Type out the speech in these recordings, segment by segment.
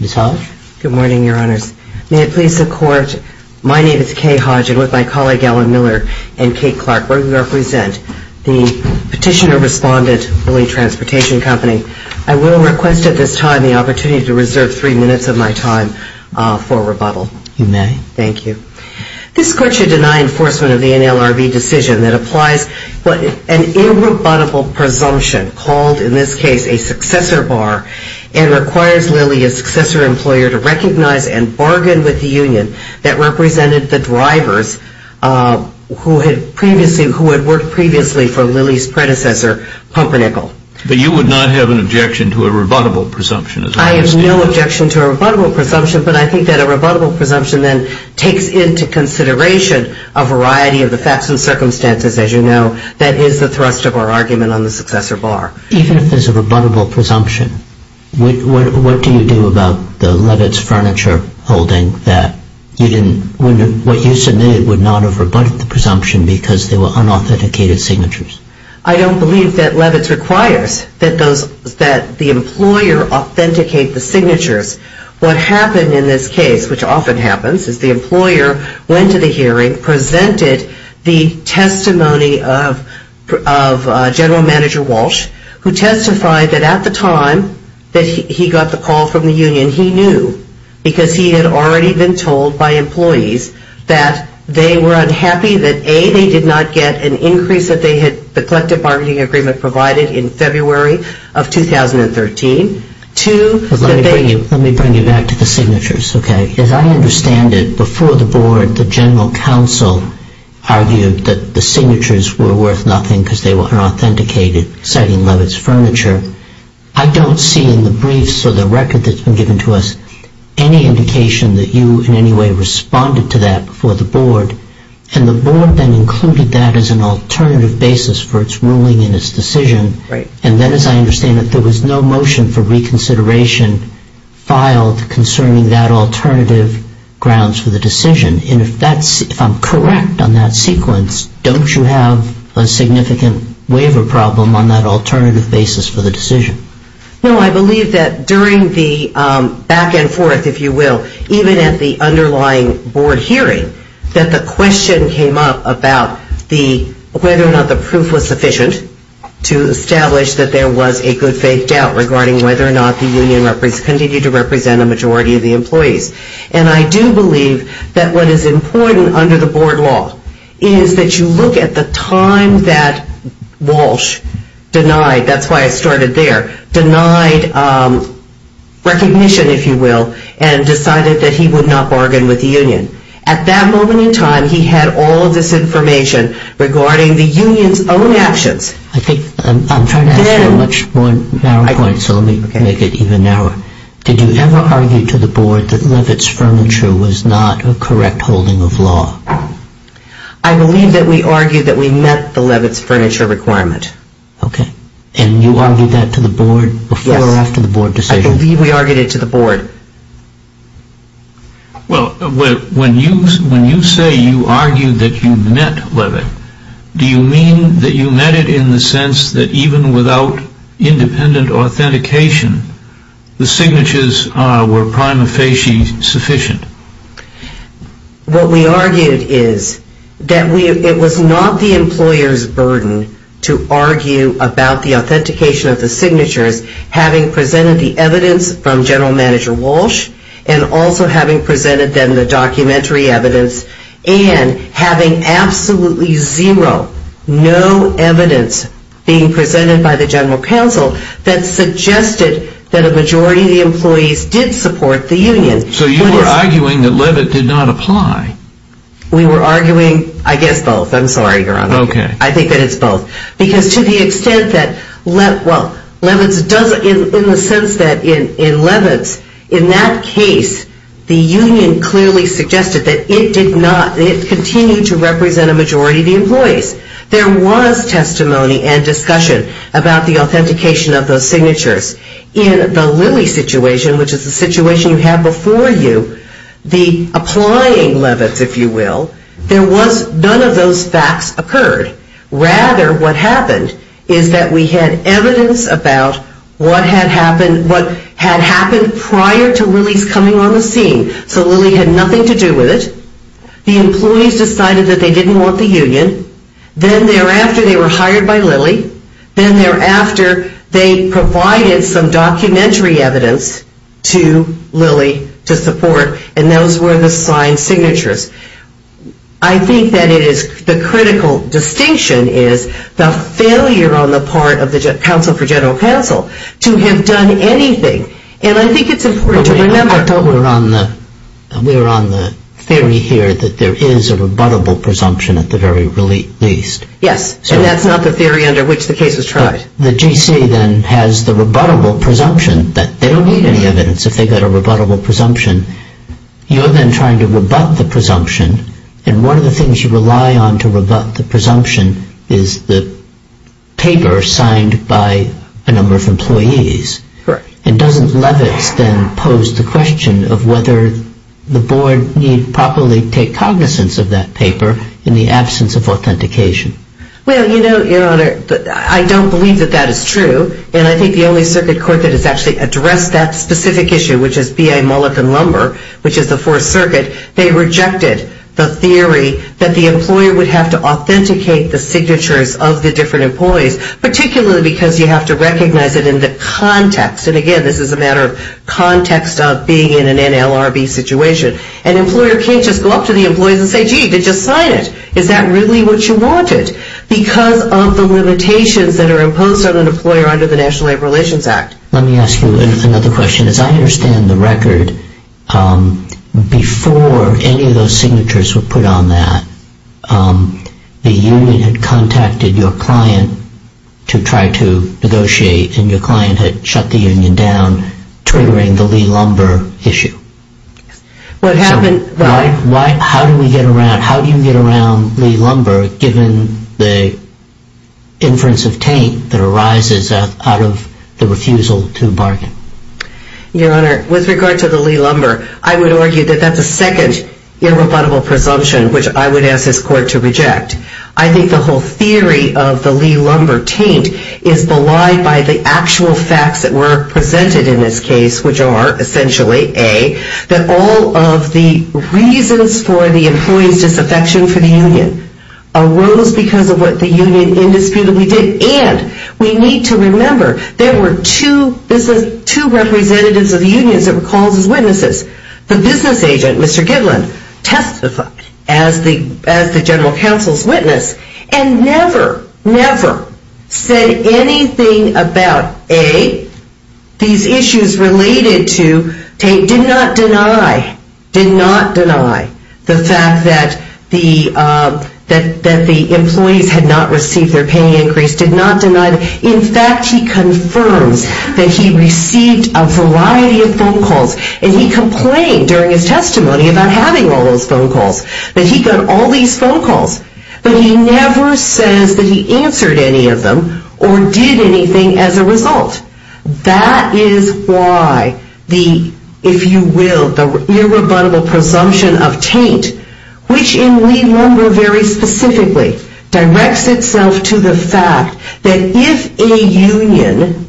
Ms. Hodge. Good morning, Your Honors. May it please the Court, my name is Kay Hodge and with my colleague Alan Miller and Kate Clarkburg who represent the petitioner-respondent, Lily Transportation Company, I will request at this time the opportunity to reserve three minutes of my time for rebuttal. You may. Thank you. This Court should deny enforcement of the NLRB decision that applies an irrebuttable presumption called, in this case, a successor bar and requires Lily, a successor employer, to recognize and bargain with the union that represented the drivers who had worked previously for Lily's predecessor, Pumpernickel. But you would not have an objection to a rebuttable presumption, is that what you're saying? I have no objection to a rebuttable presumption, but I think that a rebuttable presumption then takes into consideration a variety of the facts and circumstances, as you know, that is the thrust of our argument on the successor bar. Even if there's a rebuttable presumption, what do you do about the Levitz furniture holding that you didn't, what you submitted would not have rebutted the presumption because they were unauthenticated signatures? I don't believe that Levitz requires that the employer authenticate the signatures. What happened in this case, which often happens, is the employer went to the hearing, presented the testimony of General Manager Walsh, who testified that at the time that he got the call from the union, he knew, because he had already been told by employees that they were unhappy that, A, they did not get an increase that they had, the collective bargaining agreement provided in February of 2013, two, that they... Let me bring you back to the signatures, okay? As I understand it, before the board, the general counsel argued that the signatures were worth nothing because they were unauthenticated, citing Levitz furniture. I don't see in the briefs or the record that's been given to us any indication that you in any way responded to that before the board, and the board then included that as an alternative basis for its ruling and its decision, and then, as I understand it, there was no motion for reconsideration filed concerning that alternative grounds for the decision, and if that's, if I'm correct on that sequence, don't you have a significant waiver problem on that alternative basis for the decision? No, I believe that during the back and forth, if you will, even at the underlying board hearing, that the question came up about the, whether or not the proof was sufficient to determine whether or not the union continued to represent a majority of the employees, and I do believe that what is important under the board law is that you look at the time that Walsh denied, that's why I started there, denied recognition, if you will, and decided that he would not bargain with the union. At that moment in time, he had all of this information regarding the union's own actions. I think I'm trying to ask you a much more narrow point, so let me make it even narrower. Did you ever argue to the board that Levitt's furniture was not a correct holding of law? I believe that we argued that we met the Levitt's furniture requirement. Okay. And you argued that to the board before or after the board decision? Yes. I believe we argued it to the board. Well, when you say you argued that you met Levitt, do you mean that you met it in the sense that even without independent authentication, the signatures were prima facie sufficient? What we argued is that it was not the employer's burden to argue about the authentication of general manager Walsh, and also having presented them the documentary evidence, and having absolutely zero, no evidence being presented by the general counsel that suggested that a majority of the employees did support the union. So you were arguing that Levitt did not apply? We were arguing, I guess, both. I'm sorry, Your Honor. Okay. I think that it's both. Because to the extent that, well, Levitt's, in the sense that in Levitt's, in that case, the union clearly suggested that it did not, it continued to represent a majority of the employees. There was testimony and discussion about the authentication of those signatures. In the Lilly situation, which is the situation you have before you, the applying Levitt's, if you will, there was none of those facts occurred. Rather, what happened is that we had evidence about what had happened prior to Lilly's coming on the scene. So Lilly had nothing to do with it. The employees decided that they didn't want the union. Then thereafter, they were hired by Lilly. Then thereafter, they provided some documentary evidence to Lilly to support, and those were the signed signatures. I think that it is, the critical distinction is the failure on the part of the counsel for general counsel to have done anything. And I think it's important to remember. I thought we were on the, we were on the theory here that there is a rebuttable presumption at the very least. Yes. And that's not the theory under which the case was tried. The GC then has the rebuttable presumption that they don't need any evidence if they got a rebuttable presumption. You're then trying to rebut the presumption, and one of the things you rely on to rebut the presumption is the paper signed by a number of employees. Correct. And doesn't Levitz then pose the question of whether the board need properly take cognizance of that paper in the absence of authentication? Well, you know, Your Honor, I don't believe that that is true, and I think the only circuit that has actually addressed that specific issue, which is BA Mullet and Lumber, which is the Fourth Circuit, they rejected the theory that the employer would have to authenticate the signatures of the different employees, particularly because you have to recognize it in the context. And again, this is a matter of context of being in an NLRB situation. An employer can't just go up to the employees and say, gee, they just signed it. Is that really what you wanted? Because of the limitations that are imposed on an employer under the National Labor Relations Act. Let me ask you another question. As I understand the record, before any of those signatures were put on that, the union had contacted your client to try to negotiate, and your client had shut the union down, triggering the Lee-Lumber issue. What happened? So how do we get around, how do you get around Lee-Lumber given the inference of taint that is unusual to the bargain? Your Honor, with regard to the Lee-Lumber, I would argue that that's a second irrebuttable presumption, which I would ask this court to reject. I think the whole theory of the Lee-Lumber taint is belied by the actual facts that were presented in this case, which are, essentially, A, that all of the reasons for the employee's disaffection for the union arose because of what the union indisputably did, and we need to remember there were two representatives of the unions that were called as witnesses. The business agent, Mr. Gidland, testified as the general counsel's witness, and never, never said anything about, A, these issues related to taint, did not deny, did not deny the fact that the employees had not received their pay increase, did not deny. In fact, he confirms that he received a variety of phone calls, and he complained during his testimony about having all those phone calls, that he got all these phone calls, but he never says that he answered any of them or did anything as a result. That is why the, if you will, the irrebuttable presumption of taint, which in Lee-Lumber very specifically directs itself to the fact that if a union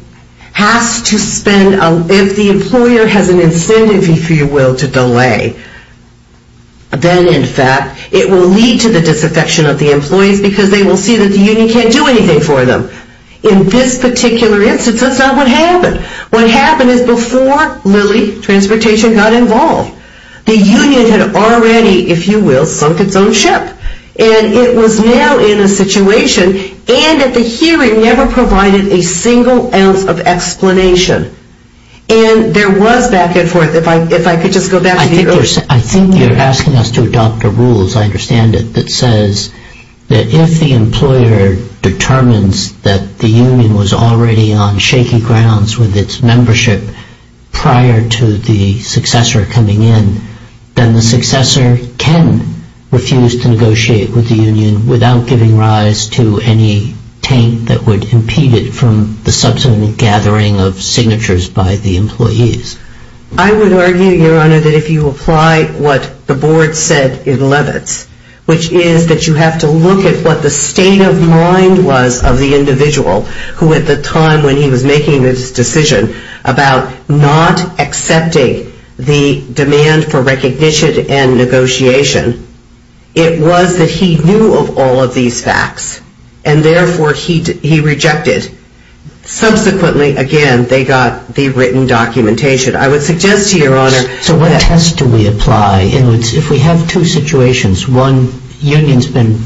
has to spend, if the employer has an incentive, if you will, to delay, then, in fact, it will lead to the disaffection of the employees because they will see that the union can't do anything for them. In this particular instance, that's not what happened. What happened is before Lilly Transportation got involved, the union had already, if you will, sunk its own ship, and it was now in a situation, and at the hearing, never provided a single ounce of explanation, and there was back and forth. If I could just go back to the original. I think you're asking us to adopt a rule, as I understand it, that says that if the employer determines that the union was already on shaky grounds with its membership prior to the successor coming in, then the successor can refuse to negotiate with the union without giving rise to any taint that would impede it from the subsequent gathering of signatures by the employees. I would argue, Your Honor, that if you apply what the board said in Levitz, which is that you have to look at what the state of mind was of the individual who, at the time when he was making this decision, about not accepting the demand for recognition and negotiation, it was that he knew of all of these facts, and therefore, he rejected. Subsequently, again, they got the written documentation. I would suggest to Your Honor that... So what test do we apply? If we have two situations, one, the union's been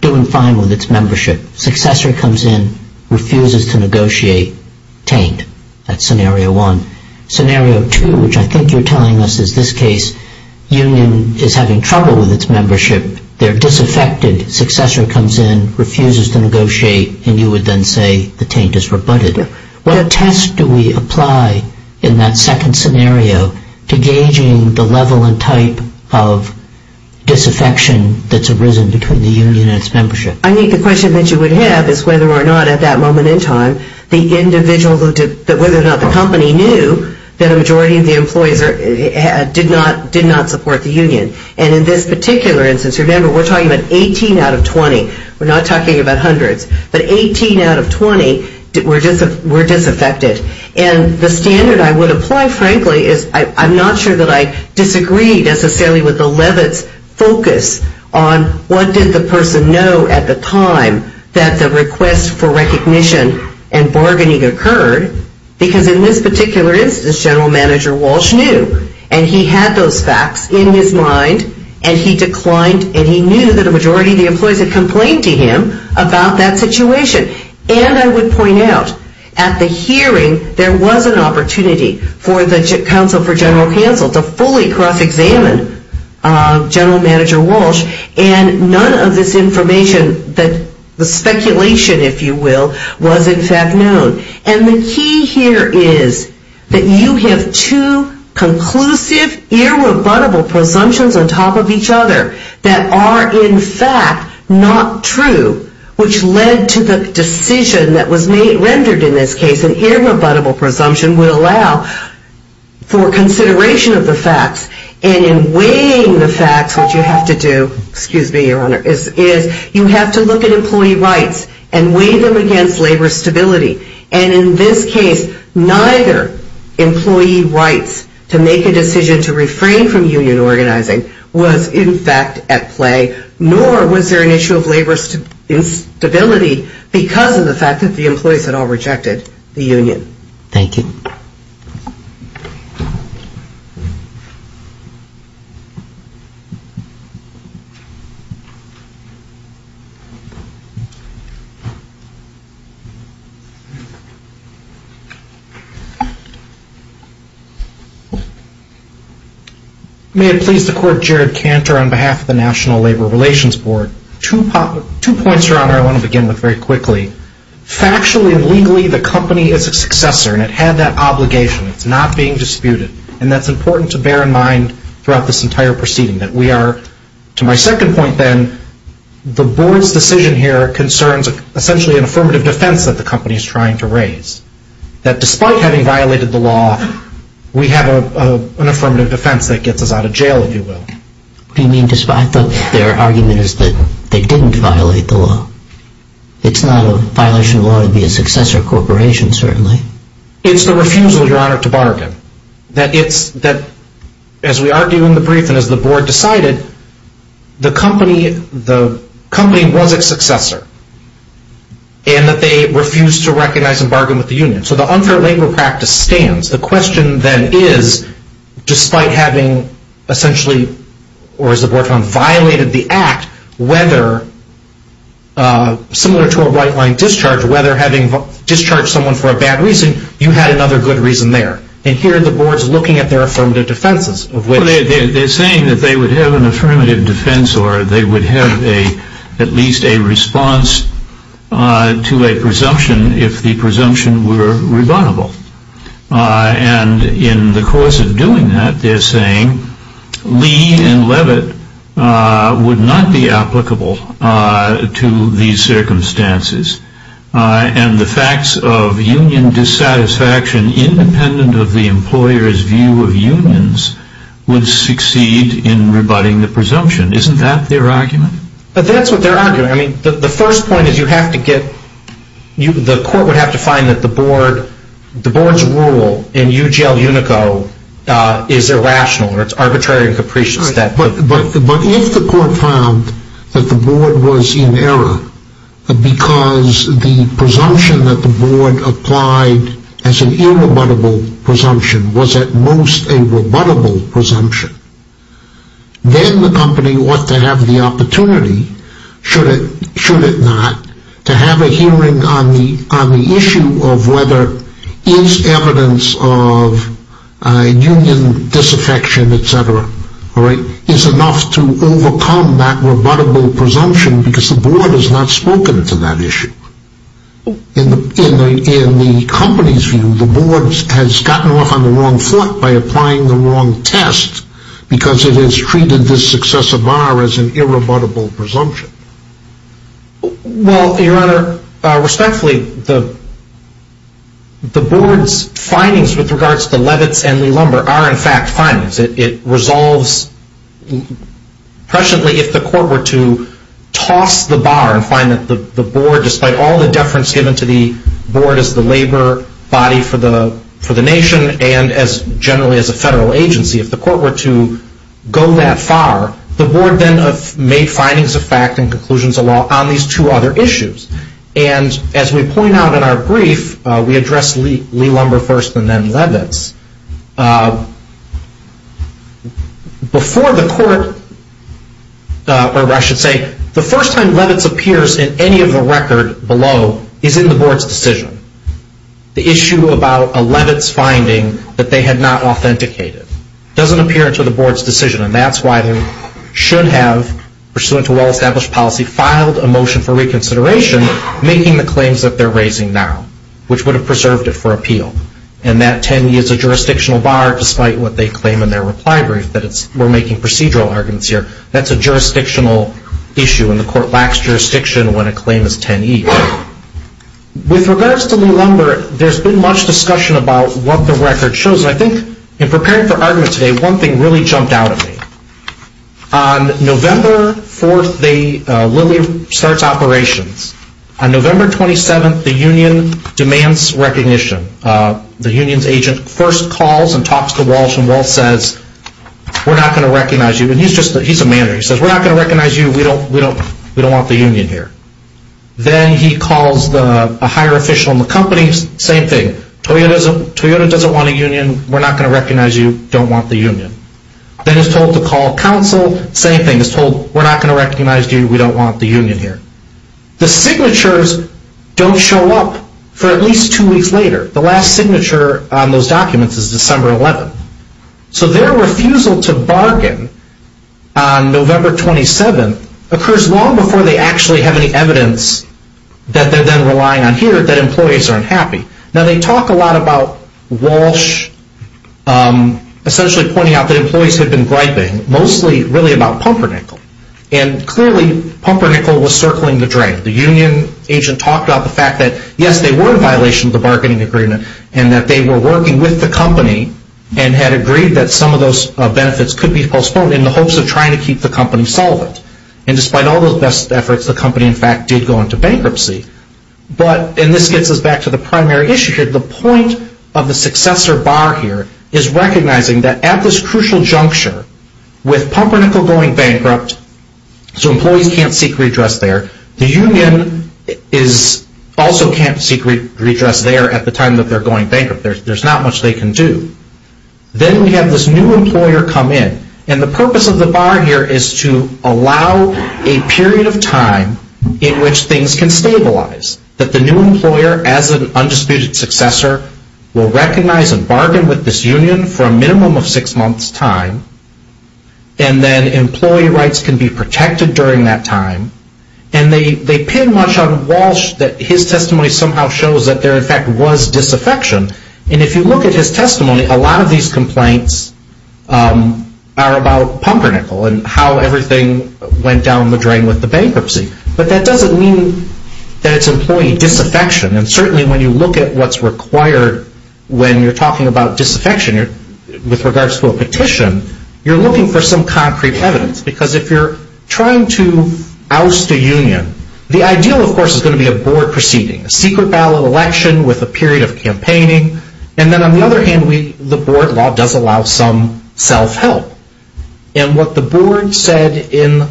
doing fine with its membership. Successor comes in, refuses to negotiate, taint. That's scenario one. Scenario two, which I think you're telling us is this case, union is having trouble with its membership. They're disaffected. Successor comes in, refuses to negotiate, and you would then say the taint is rebutted. What test do we apply in that second scenario to gauging the level and type of disaffection that's arisen between the union and its membership? I think the question that you would have is whether or not, at that moment in time, the individual, whether or not the company knew that a majority of the employees did not support the union. And in this particular instance, remember, we're talking about 18 out of 20. We're not talking about hundreds, but 18 out of 20 were disaffected. And the standard I would apply, frankly, is I'm not sure that I disagree necessarily with the person know at the time that the request for recognition and bargaining occurred, because in this particular instance, General Manager Walsh knew, and he had those facts in his mind, and he declined and he knew that a majority of the employees had complained to him about that situation. And I would point out, at the hearing, there was an opportunity for the Council for General Finance to examine General Manager Walsh, and none of this information, the speculation, if you will, was, in fact, known. And the key here is that you have two conclusive, irrebuttable presumptions on top of each other that are, in fact, not true, which led to the decision that was rendered in this case, an irrebuttable presumption would allow for consideration of the facts, and in weighing the facts, what you have to do, excuse me, Your Honor, is you have to look at employee rights and weigh them against labor stability. And in this case, neither employee rights to make a decision to refrain from union organizing was, in fact, at play, nor was there an issue of labor instability because of the fact that the employees had all rejected the union. Thank you. May it please the Court, Jared Cantor on behalf of the National Labor Relations Board. Two points, Your Honor, I want to begin with very quickly. Factually and legally, the company is a successor, and it had that obligation. It's not being disputed, and that's important to bear in mind throughout this entire proceeding, that we are, to my second point then, the Board's decision here concerns essentially an affirmative defense that the company is trying to raise, that despite having violated the law, we have an affirmative defense that gets us out of jail, if you will. What do you mean despite? I thought their argument is that they didn't violate the law. It's not a violation of law to be a successor corporation, certainly. It's the refusal, Your Honor, to bargain, that as we argue in the brief and as the Board decided, the company was its successor, and that they refused to recognize and bargain with the union. So the unfair labor practice stands. The question then is, despite having essentially, or as the Board found, violated the act, whether, similar to a right-line discharge, whether having discharged someone for a bad reason, you had another good reason there. And here the Board's looking at their affirmative defenses. They're saying that they would have an affirmative defense, or they would have at least a response to a presumption if the presumption were rebuttable. And in the course of doing that, they're saying Lee and Levitt would not be applicable to these circumstances. And the facts of union dissatisfaction, independent of the employer's view of unions, would succeed in rebutting the presumption. Isn't that their argument? But that's what they're arguing. The first point is, the Court would have to find that the Board's rule in UGL Unico is irrational, or it's arbitrary and capricious. But if the Court found that the Board was in error, because the presumption that the Board applied as an irrebuttable presumption was at most a rebuttable presumption, then the company ought to have the opportunity, should it not, to have a hearing on the issue of whether it's evidence of union disaffection, etc., is enough to overcome that rebuttable presumption, because the Board has not spoken to that issue. In the company's view, the Board has gotten off on the wrong foot by applying the wrong test, because it has treated this successive bar as an irrebuttable presumption. Well, Your Honor, respectfully, the Board's findings with regards to Levitt's and Lee Lumber are, in fact, findings. It resolves presciently if the Court were to toss the bar and find that the Board, despite all the deference given to the Board as the labor body for the nation, and generally as a federal agency, if the Court were to go that far, the Board then made findings of fact and conclusions of law on these two other issues. And, as we point out in our brief, we address Lee Lumber first and then Levitt's. Before the Court, or I should say, the first time Levitt's appears in any of the record below is in the Board's decision. The issue about a Levitt's finding that they had not authenticated doesn't appear to the Board's decision, and that's why they should have, pursuant to well-established policy, filed a motion for reconsideration making the claims that they're raising now, which would have preserved it for appeal. And that 10E is a jurisdictional bar, despite what they claim in their reply brief, that we're making procedural arguments here. That's a jurisdictional issue, and the Court lacks jurisdiction when a claim is 10E. With regards to Lee Lumber, there's been much discussion about what the record shows, and I think in preparing for argument today, one thing really jumped out at me. On November 4th, Lilley starts operations. On November 27th, the Union demands recognition. The Union's agent first calls and talks to Walsh, and Walsh says, we're not going to recognize you. And he's just a manner. He says, we're not going to recognize you. We don't want the Union here. Then he calls a higher official in the company. Same thing. Toyota doesn't want a Union. We're not going to recognize you. Don't want the Union. Then he's told to call counsel. Same thing. He's told, we're not going to recognize you. We don't want the Union here. The signatures don't show up for at least two weeks later. The last signature on those documents is December 11th. So their refusal to bargain on November 27th occurs long before they actually have any evidence that they're then relying on here that employees are unhappy. Now, they talk a lot about Walsh essentially pointing out that employees had been griping, mostly really about Pumpernickel. And clearly, Pumpernickel was circling the drain. The Union agent talked about the fact that, yes, they were in violation of the bargaining agreement, and that they were working with the company and had agreed that some of those benefits could be postponed in the hopes of trying to keep the company solvent. And despite all those best efforts, the company, in fact, did go into bankruptcy. But, and this gets us back to the primary issue here. The point of the successor bar here is recognizing that at this crucial juncture, with Pumpernickel going bankrupt, so employees can't seek redress there, the Union is also can't seek redress there at the time that they're going bankrupt. There's not much they can do. Then we have this new employer come in. And the purpose of the bar here is to allow a period of time in which things can stabilize. That the new employer, as an undisputed successor, will recognize and bargain with this Union for a minimum of six months time. And then employee rights can be protected during that time. And they pin much on Walsh that his testimony somehow shows that there And if you look at his testimony, a lot of these complaints are about Pumpernickel and how everything went down the drain with the bankruptcy. But that doesn't mean that it's employee disaffection. And certainly when you look at what's required when you're talking about disaffection with regards to a petition, you're looking for some concrete evidence. Because if you're trying to oust a Union, the ideal, of course, is going to be a board proceeding. A secret ballot election with a period of campaigning. And then on the other hand, the board law does allow some self-help. And what the board said in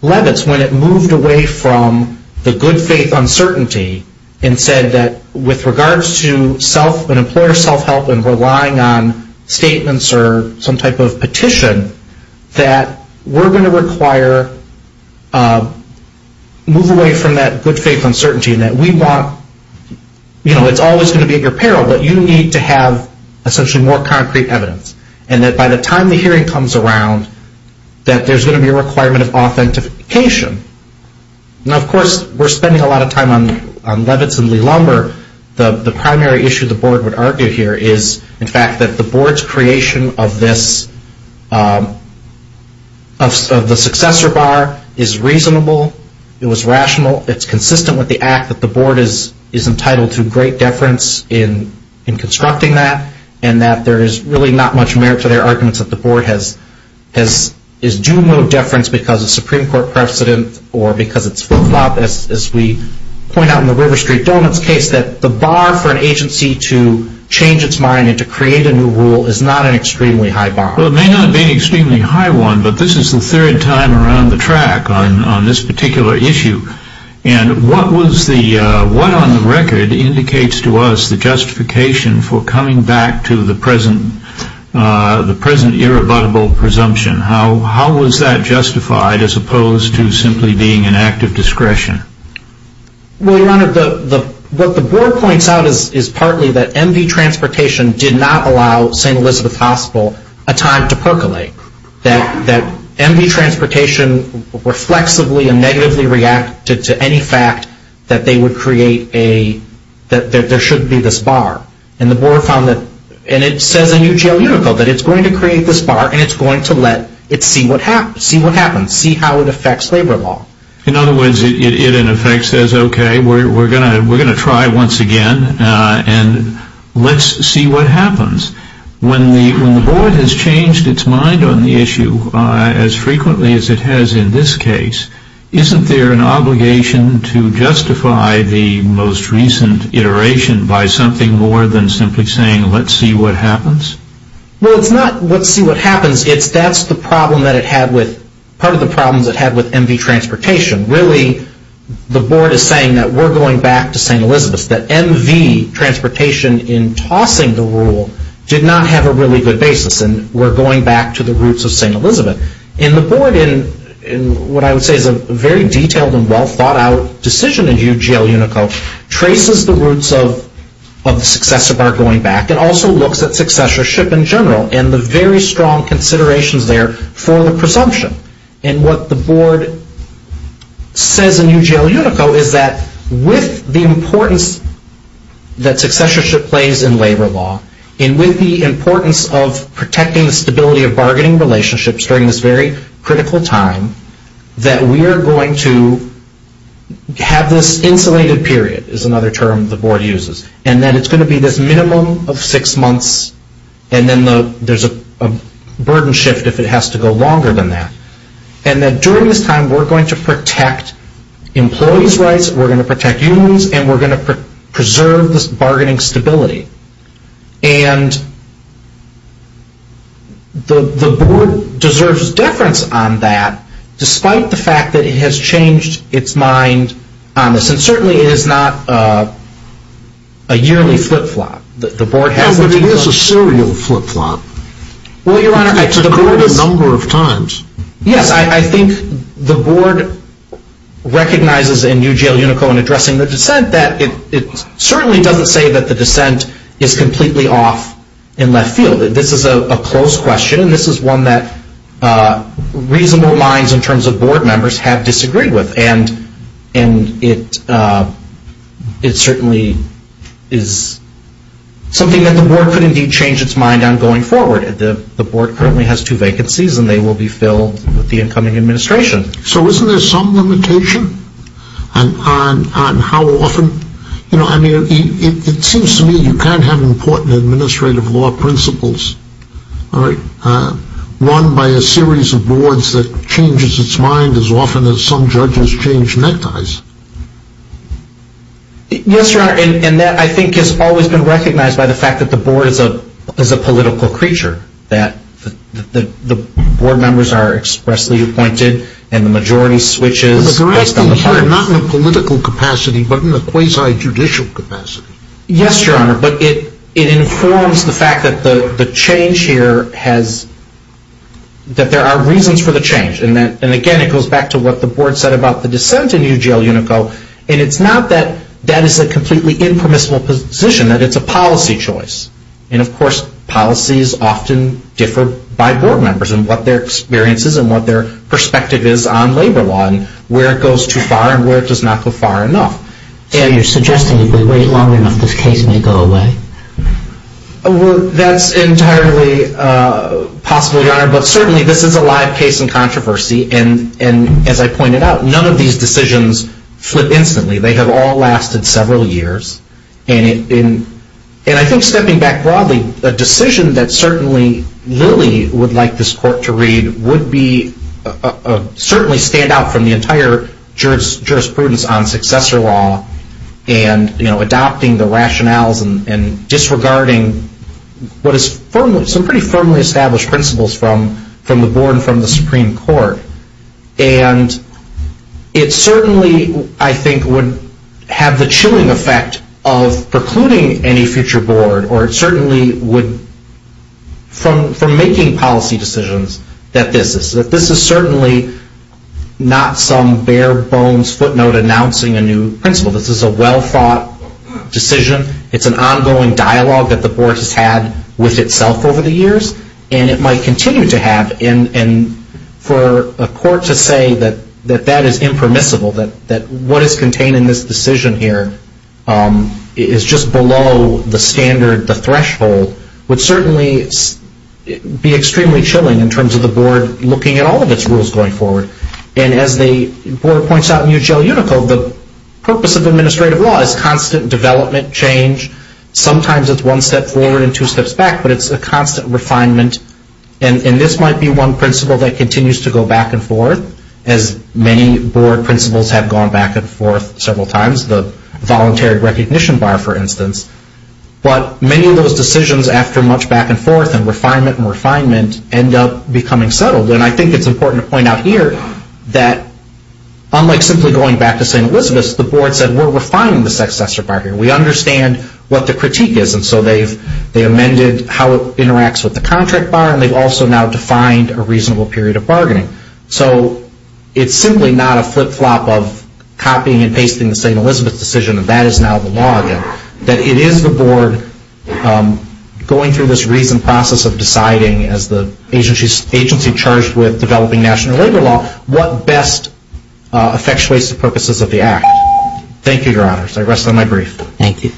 Leavitt's when it moved away from the good faith uncertainty and said that with regards to self, an employer self-help and relying on statements or some type of petition, that we're going to require, move away from that good faith uncertainty. And that we want, you know, it's always going to be at your peril, but you need to have essentially more concrete evidence. And that by the time the hearing comes around, that there's going to be a requirement of authentication. Now, of course, we're spending a lot of time on Leavitt's and Lee-Lumber. The primary issue the board would argue here is, in fact, that the board's creation of this, of the successor bar is reasonable, it was rational, it's a fact that the board is entitled to great deference in constructing that. And that there's really not much merit to their arguments that the board has due mode deference because of Supreme Court precedent or because it's flip-flop, as we point out in the River Street Donut's case, that the bar for an agency to change its mind and to create a new rule is not an extremely high bar. Well, it may not be an extremely high one, but this is the third time around the track on this particular issue. And what was the, what on the record indicates to us the justification for coming back to the present irrebuttable presumption? How was that justified as opposed to simply being an act of discretion? Well, Your Honor, what the board points out is partly that MV Transportation did not allow St. Elizabeth Hospital a time to percolate. That MV Transportation reflexively and negatively reacted to any fact that they would create a, that there should be this bar. And the board found that, and it says in UGL Unico that it's going to create this bar and it's going to let it see what happens, see how it affects labor law. In other words, it in effect says, okay, we're going to try once again and let's see what happens. When the board has changed its mind on the issue as frequently as it has in this case, isn't there an obligation to justify the most recent iteration by something more than simply saying let's see what happens? Well, it's not let's see what happens, it's that's the problem that it had with, part of the problems it had with MV Transportation. Really, the board is saying that we're going back to St. Elizabeth, that MV Transportation in tossing the rule did not have a really good basis and we're going back to the roots of St. Elizabeth. And the board, in what I would say is a very detailed and well thought out decision in UGL Unico, traces the roots of the successor bar going back and also looks at successorship in general and the very strong considerations there for the presumption. And what the board says in UGL Unico is that with the importance that successorship plays in labor law and with the importance of protecting the stability of bargaining relationships during this very critical time, that we are going to have this insulated period is another term the board uses. And that it's going to be this minimum of six months and then there's a burden shift if it has to go longer than that. And that during this time we're going to protect employees' rights, we're going to protect unions, and we're going to preserve this bargaining stability. And the board deserves deference on that despite the fact that it has changed its mind on this. And certainly it is not a yearly flip-flop. But it is a serial flip-flop. It's occurred a number of times. Yes, I think the board recognizes in UGL Unico in addressing the dissent that it certainly doesn't say that the dissent is completely off in left field. This is a close question and this is one that reasonable minds in terms of board members have disagreed with. And it certainly is something that the board could indeed change its mind on going forward. The board currently has two vacancies and they will be filled with the incoming administration. So isn't there some limitation on how often? I mean, it seems to me you can't have important administrative law principles, all right, run by a series of boards that changes its mind as often as some judges change neckties. Yes, Your Honor, and that I think has always been recognized by the fact that the board is a political creature. That the board members are expressly appointed and the majority switches based on the parties. But they're acting here not in a political capacity but in a quasi-judicial capacity. Yes, Your Honor, but it informs the fact that the change here has, that there are reasons for the change. And again, it goes back to what the board said about the dissent in UGL-UNICO. And it's not that that is a completely impermissible position, that it's a policy choice. And of course, policies often differ by board members and what their experience is and what their perspective is on labor law and where it goes too far and where it does not go far enough. So you're suggesting if we wait long enough, this case may go away? Well, that's entirely possible, Your Honor. But certainly this is a live case in controversy. And as I pointed out, none of these decisions flip instantly. They have all lasted several years. And I think stepping back broadly, a decision that certainly Lily would like this court to read would be, certainly stand out from the entire jurisprudence on successor law and adopting the rationales and disregarding what is some pretty firmly established principles from the board and from the Supreme Court. And it certainly, I think, would have the chilling effect of precluding any future board or it certainly would, from making policy decisions, that this is certainly not some bare bones footnote announcing a new principle. This is a well-thought decision. It's an ongoing dialogue that the board has had with itself over the years and it might continue to have. And for a court to say that that is impermissible, that what is contained in this decision here is just below the standard, the threshold, would certainly be extremely chilling in terms of the board looking at all of its rules going forward. And as the board points out in UGL Unico, the purpose of administrative law is constant development, change. Sometimes it's one step forward and two steps back, but it's a constant refinement. And this might be one principle that continues to go back and forth, as many board principles have gone back and forth several times. The voluntary recognition bar, for instance. But many of those decisions, after much back and forth and refinement and refinement, end up becoming settled. And I think it's important to point out here that, unlike simply going back to St. Elizabeth's, the board said we're refining the successor bar here. We understand what the critique is and so they've amended how it interacts with the contract bar and they've also now defined a reasonable period of bargaining. So it's simply not a flip-flop of copying and pasting the St. Elizabeth's decision and that is now the law again. That it is the board going through this reasoned process of deciding, as the agency charged with developing national labor law, what best effectuates the purposes of the act. Thank you, Your Honors. I rest on my brief. Thank you.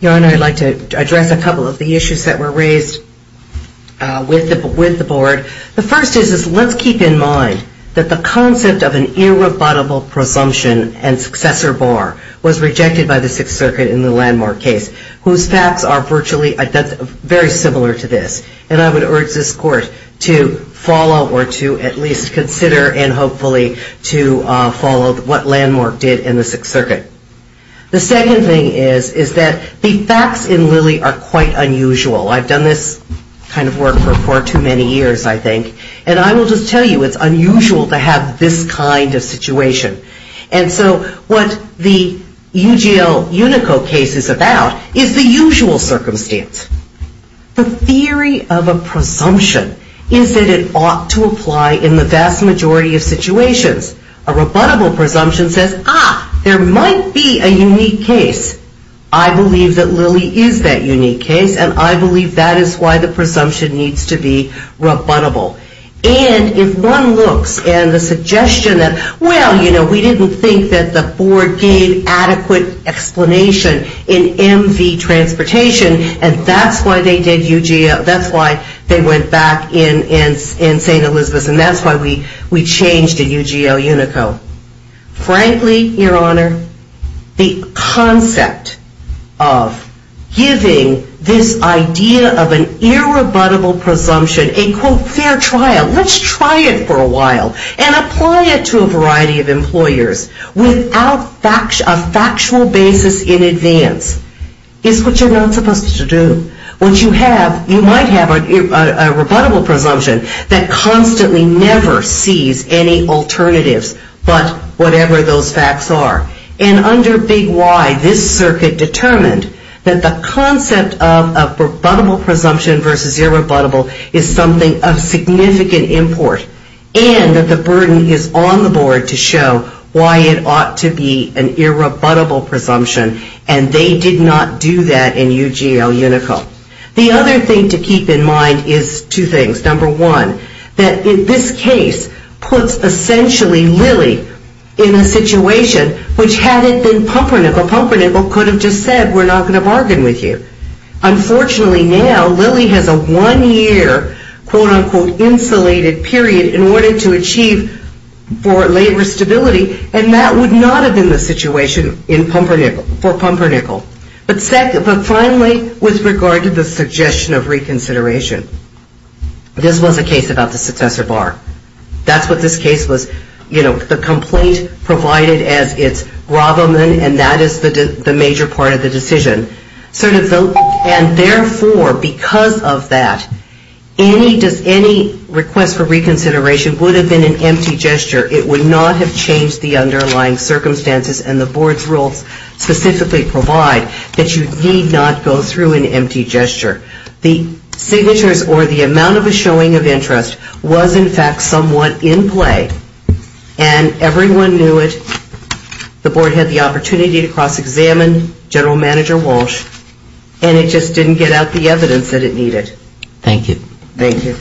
Your Honor, I'd like to address a couple of the issues that were raised with the board. The first is let's keep in mind that the concept of an successor bar was rejected by the Sixth Circuit in the Landmark case, whose facts are very similar to this. And I would urge this Court to follow or to at least consider and hopefully to follow what Landmark did in the Sixth Circuit. The second thing is that the facts in Lilly are quite unusual. I've done this kind of work for far too many years, I think, and I think that there is a lot of confusion. And so what the UGL Unico case is about is the usual circumstance. The theory of a presumption is that it ought to apply in the vast majority of situations. A rebuttable presumption says, ah, there might be a unique case. I believe that Lilly is that unique case and I believe that is why the presumption needs to be rebuttable. And if one looks and the suggestion that, well, you know, we didn't think that the board gave adequate explanation in MV transportation and that's why they did UGL, that's why they went back in St. Elizabeth's and that's why we changed the UGL Unico. Frankly, Your Honor, the concept of giving this idea of an irrebuttable presumption, a, quote, fair trial, let's try it for a while and apply it to a variety of employers without a factual basis in advance, is what you're not supposed to do. What you have, you might have a rebuttable presumption that constantly never sees any alternatives but whatever those facts are. And under Big Y, this circuit determined that the concept of a presumption versus irrebuttable is something of significant import and that the burden is on the board to show why it ought to be an irrebuttable presumption and they did not do that in UGL Unico. The other thing to keep in mind is two things. Number one, that this case puts essentially Lilly in a situation which had it been Pumpernickle, Pumpernickle could have just said we're not going to bargain with you. Unfortunately now, Lilly has a one-year, quote, unquote, insulated period in order to achieve for labor stability and that would not have been the situation for Pumpernickle. But finally, with regard to the suggestion of reconsideration, this was a case about the successor bar. That's what this case was, you know, the complaint provided as its gravamen and that is the major part of the decision. And therefore, because of that, any request for reconsideration would have been an empty gesture. It would not have changed the underlying circumstances and the board's rules specifically provide that you need not go through an empty gesture. The signatures or the amount of a showing of interest was in fact somewhat in play and everyone knew it. The board had the opportunity to cross-examine. General Manager Walsh and it just didn't get out the evidence that it needed. Thank you. Thank you.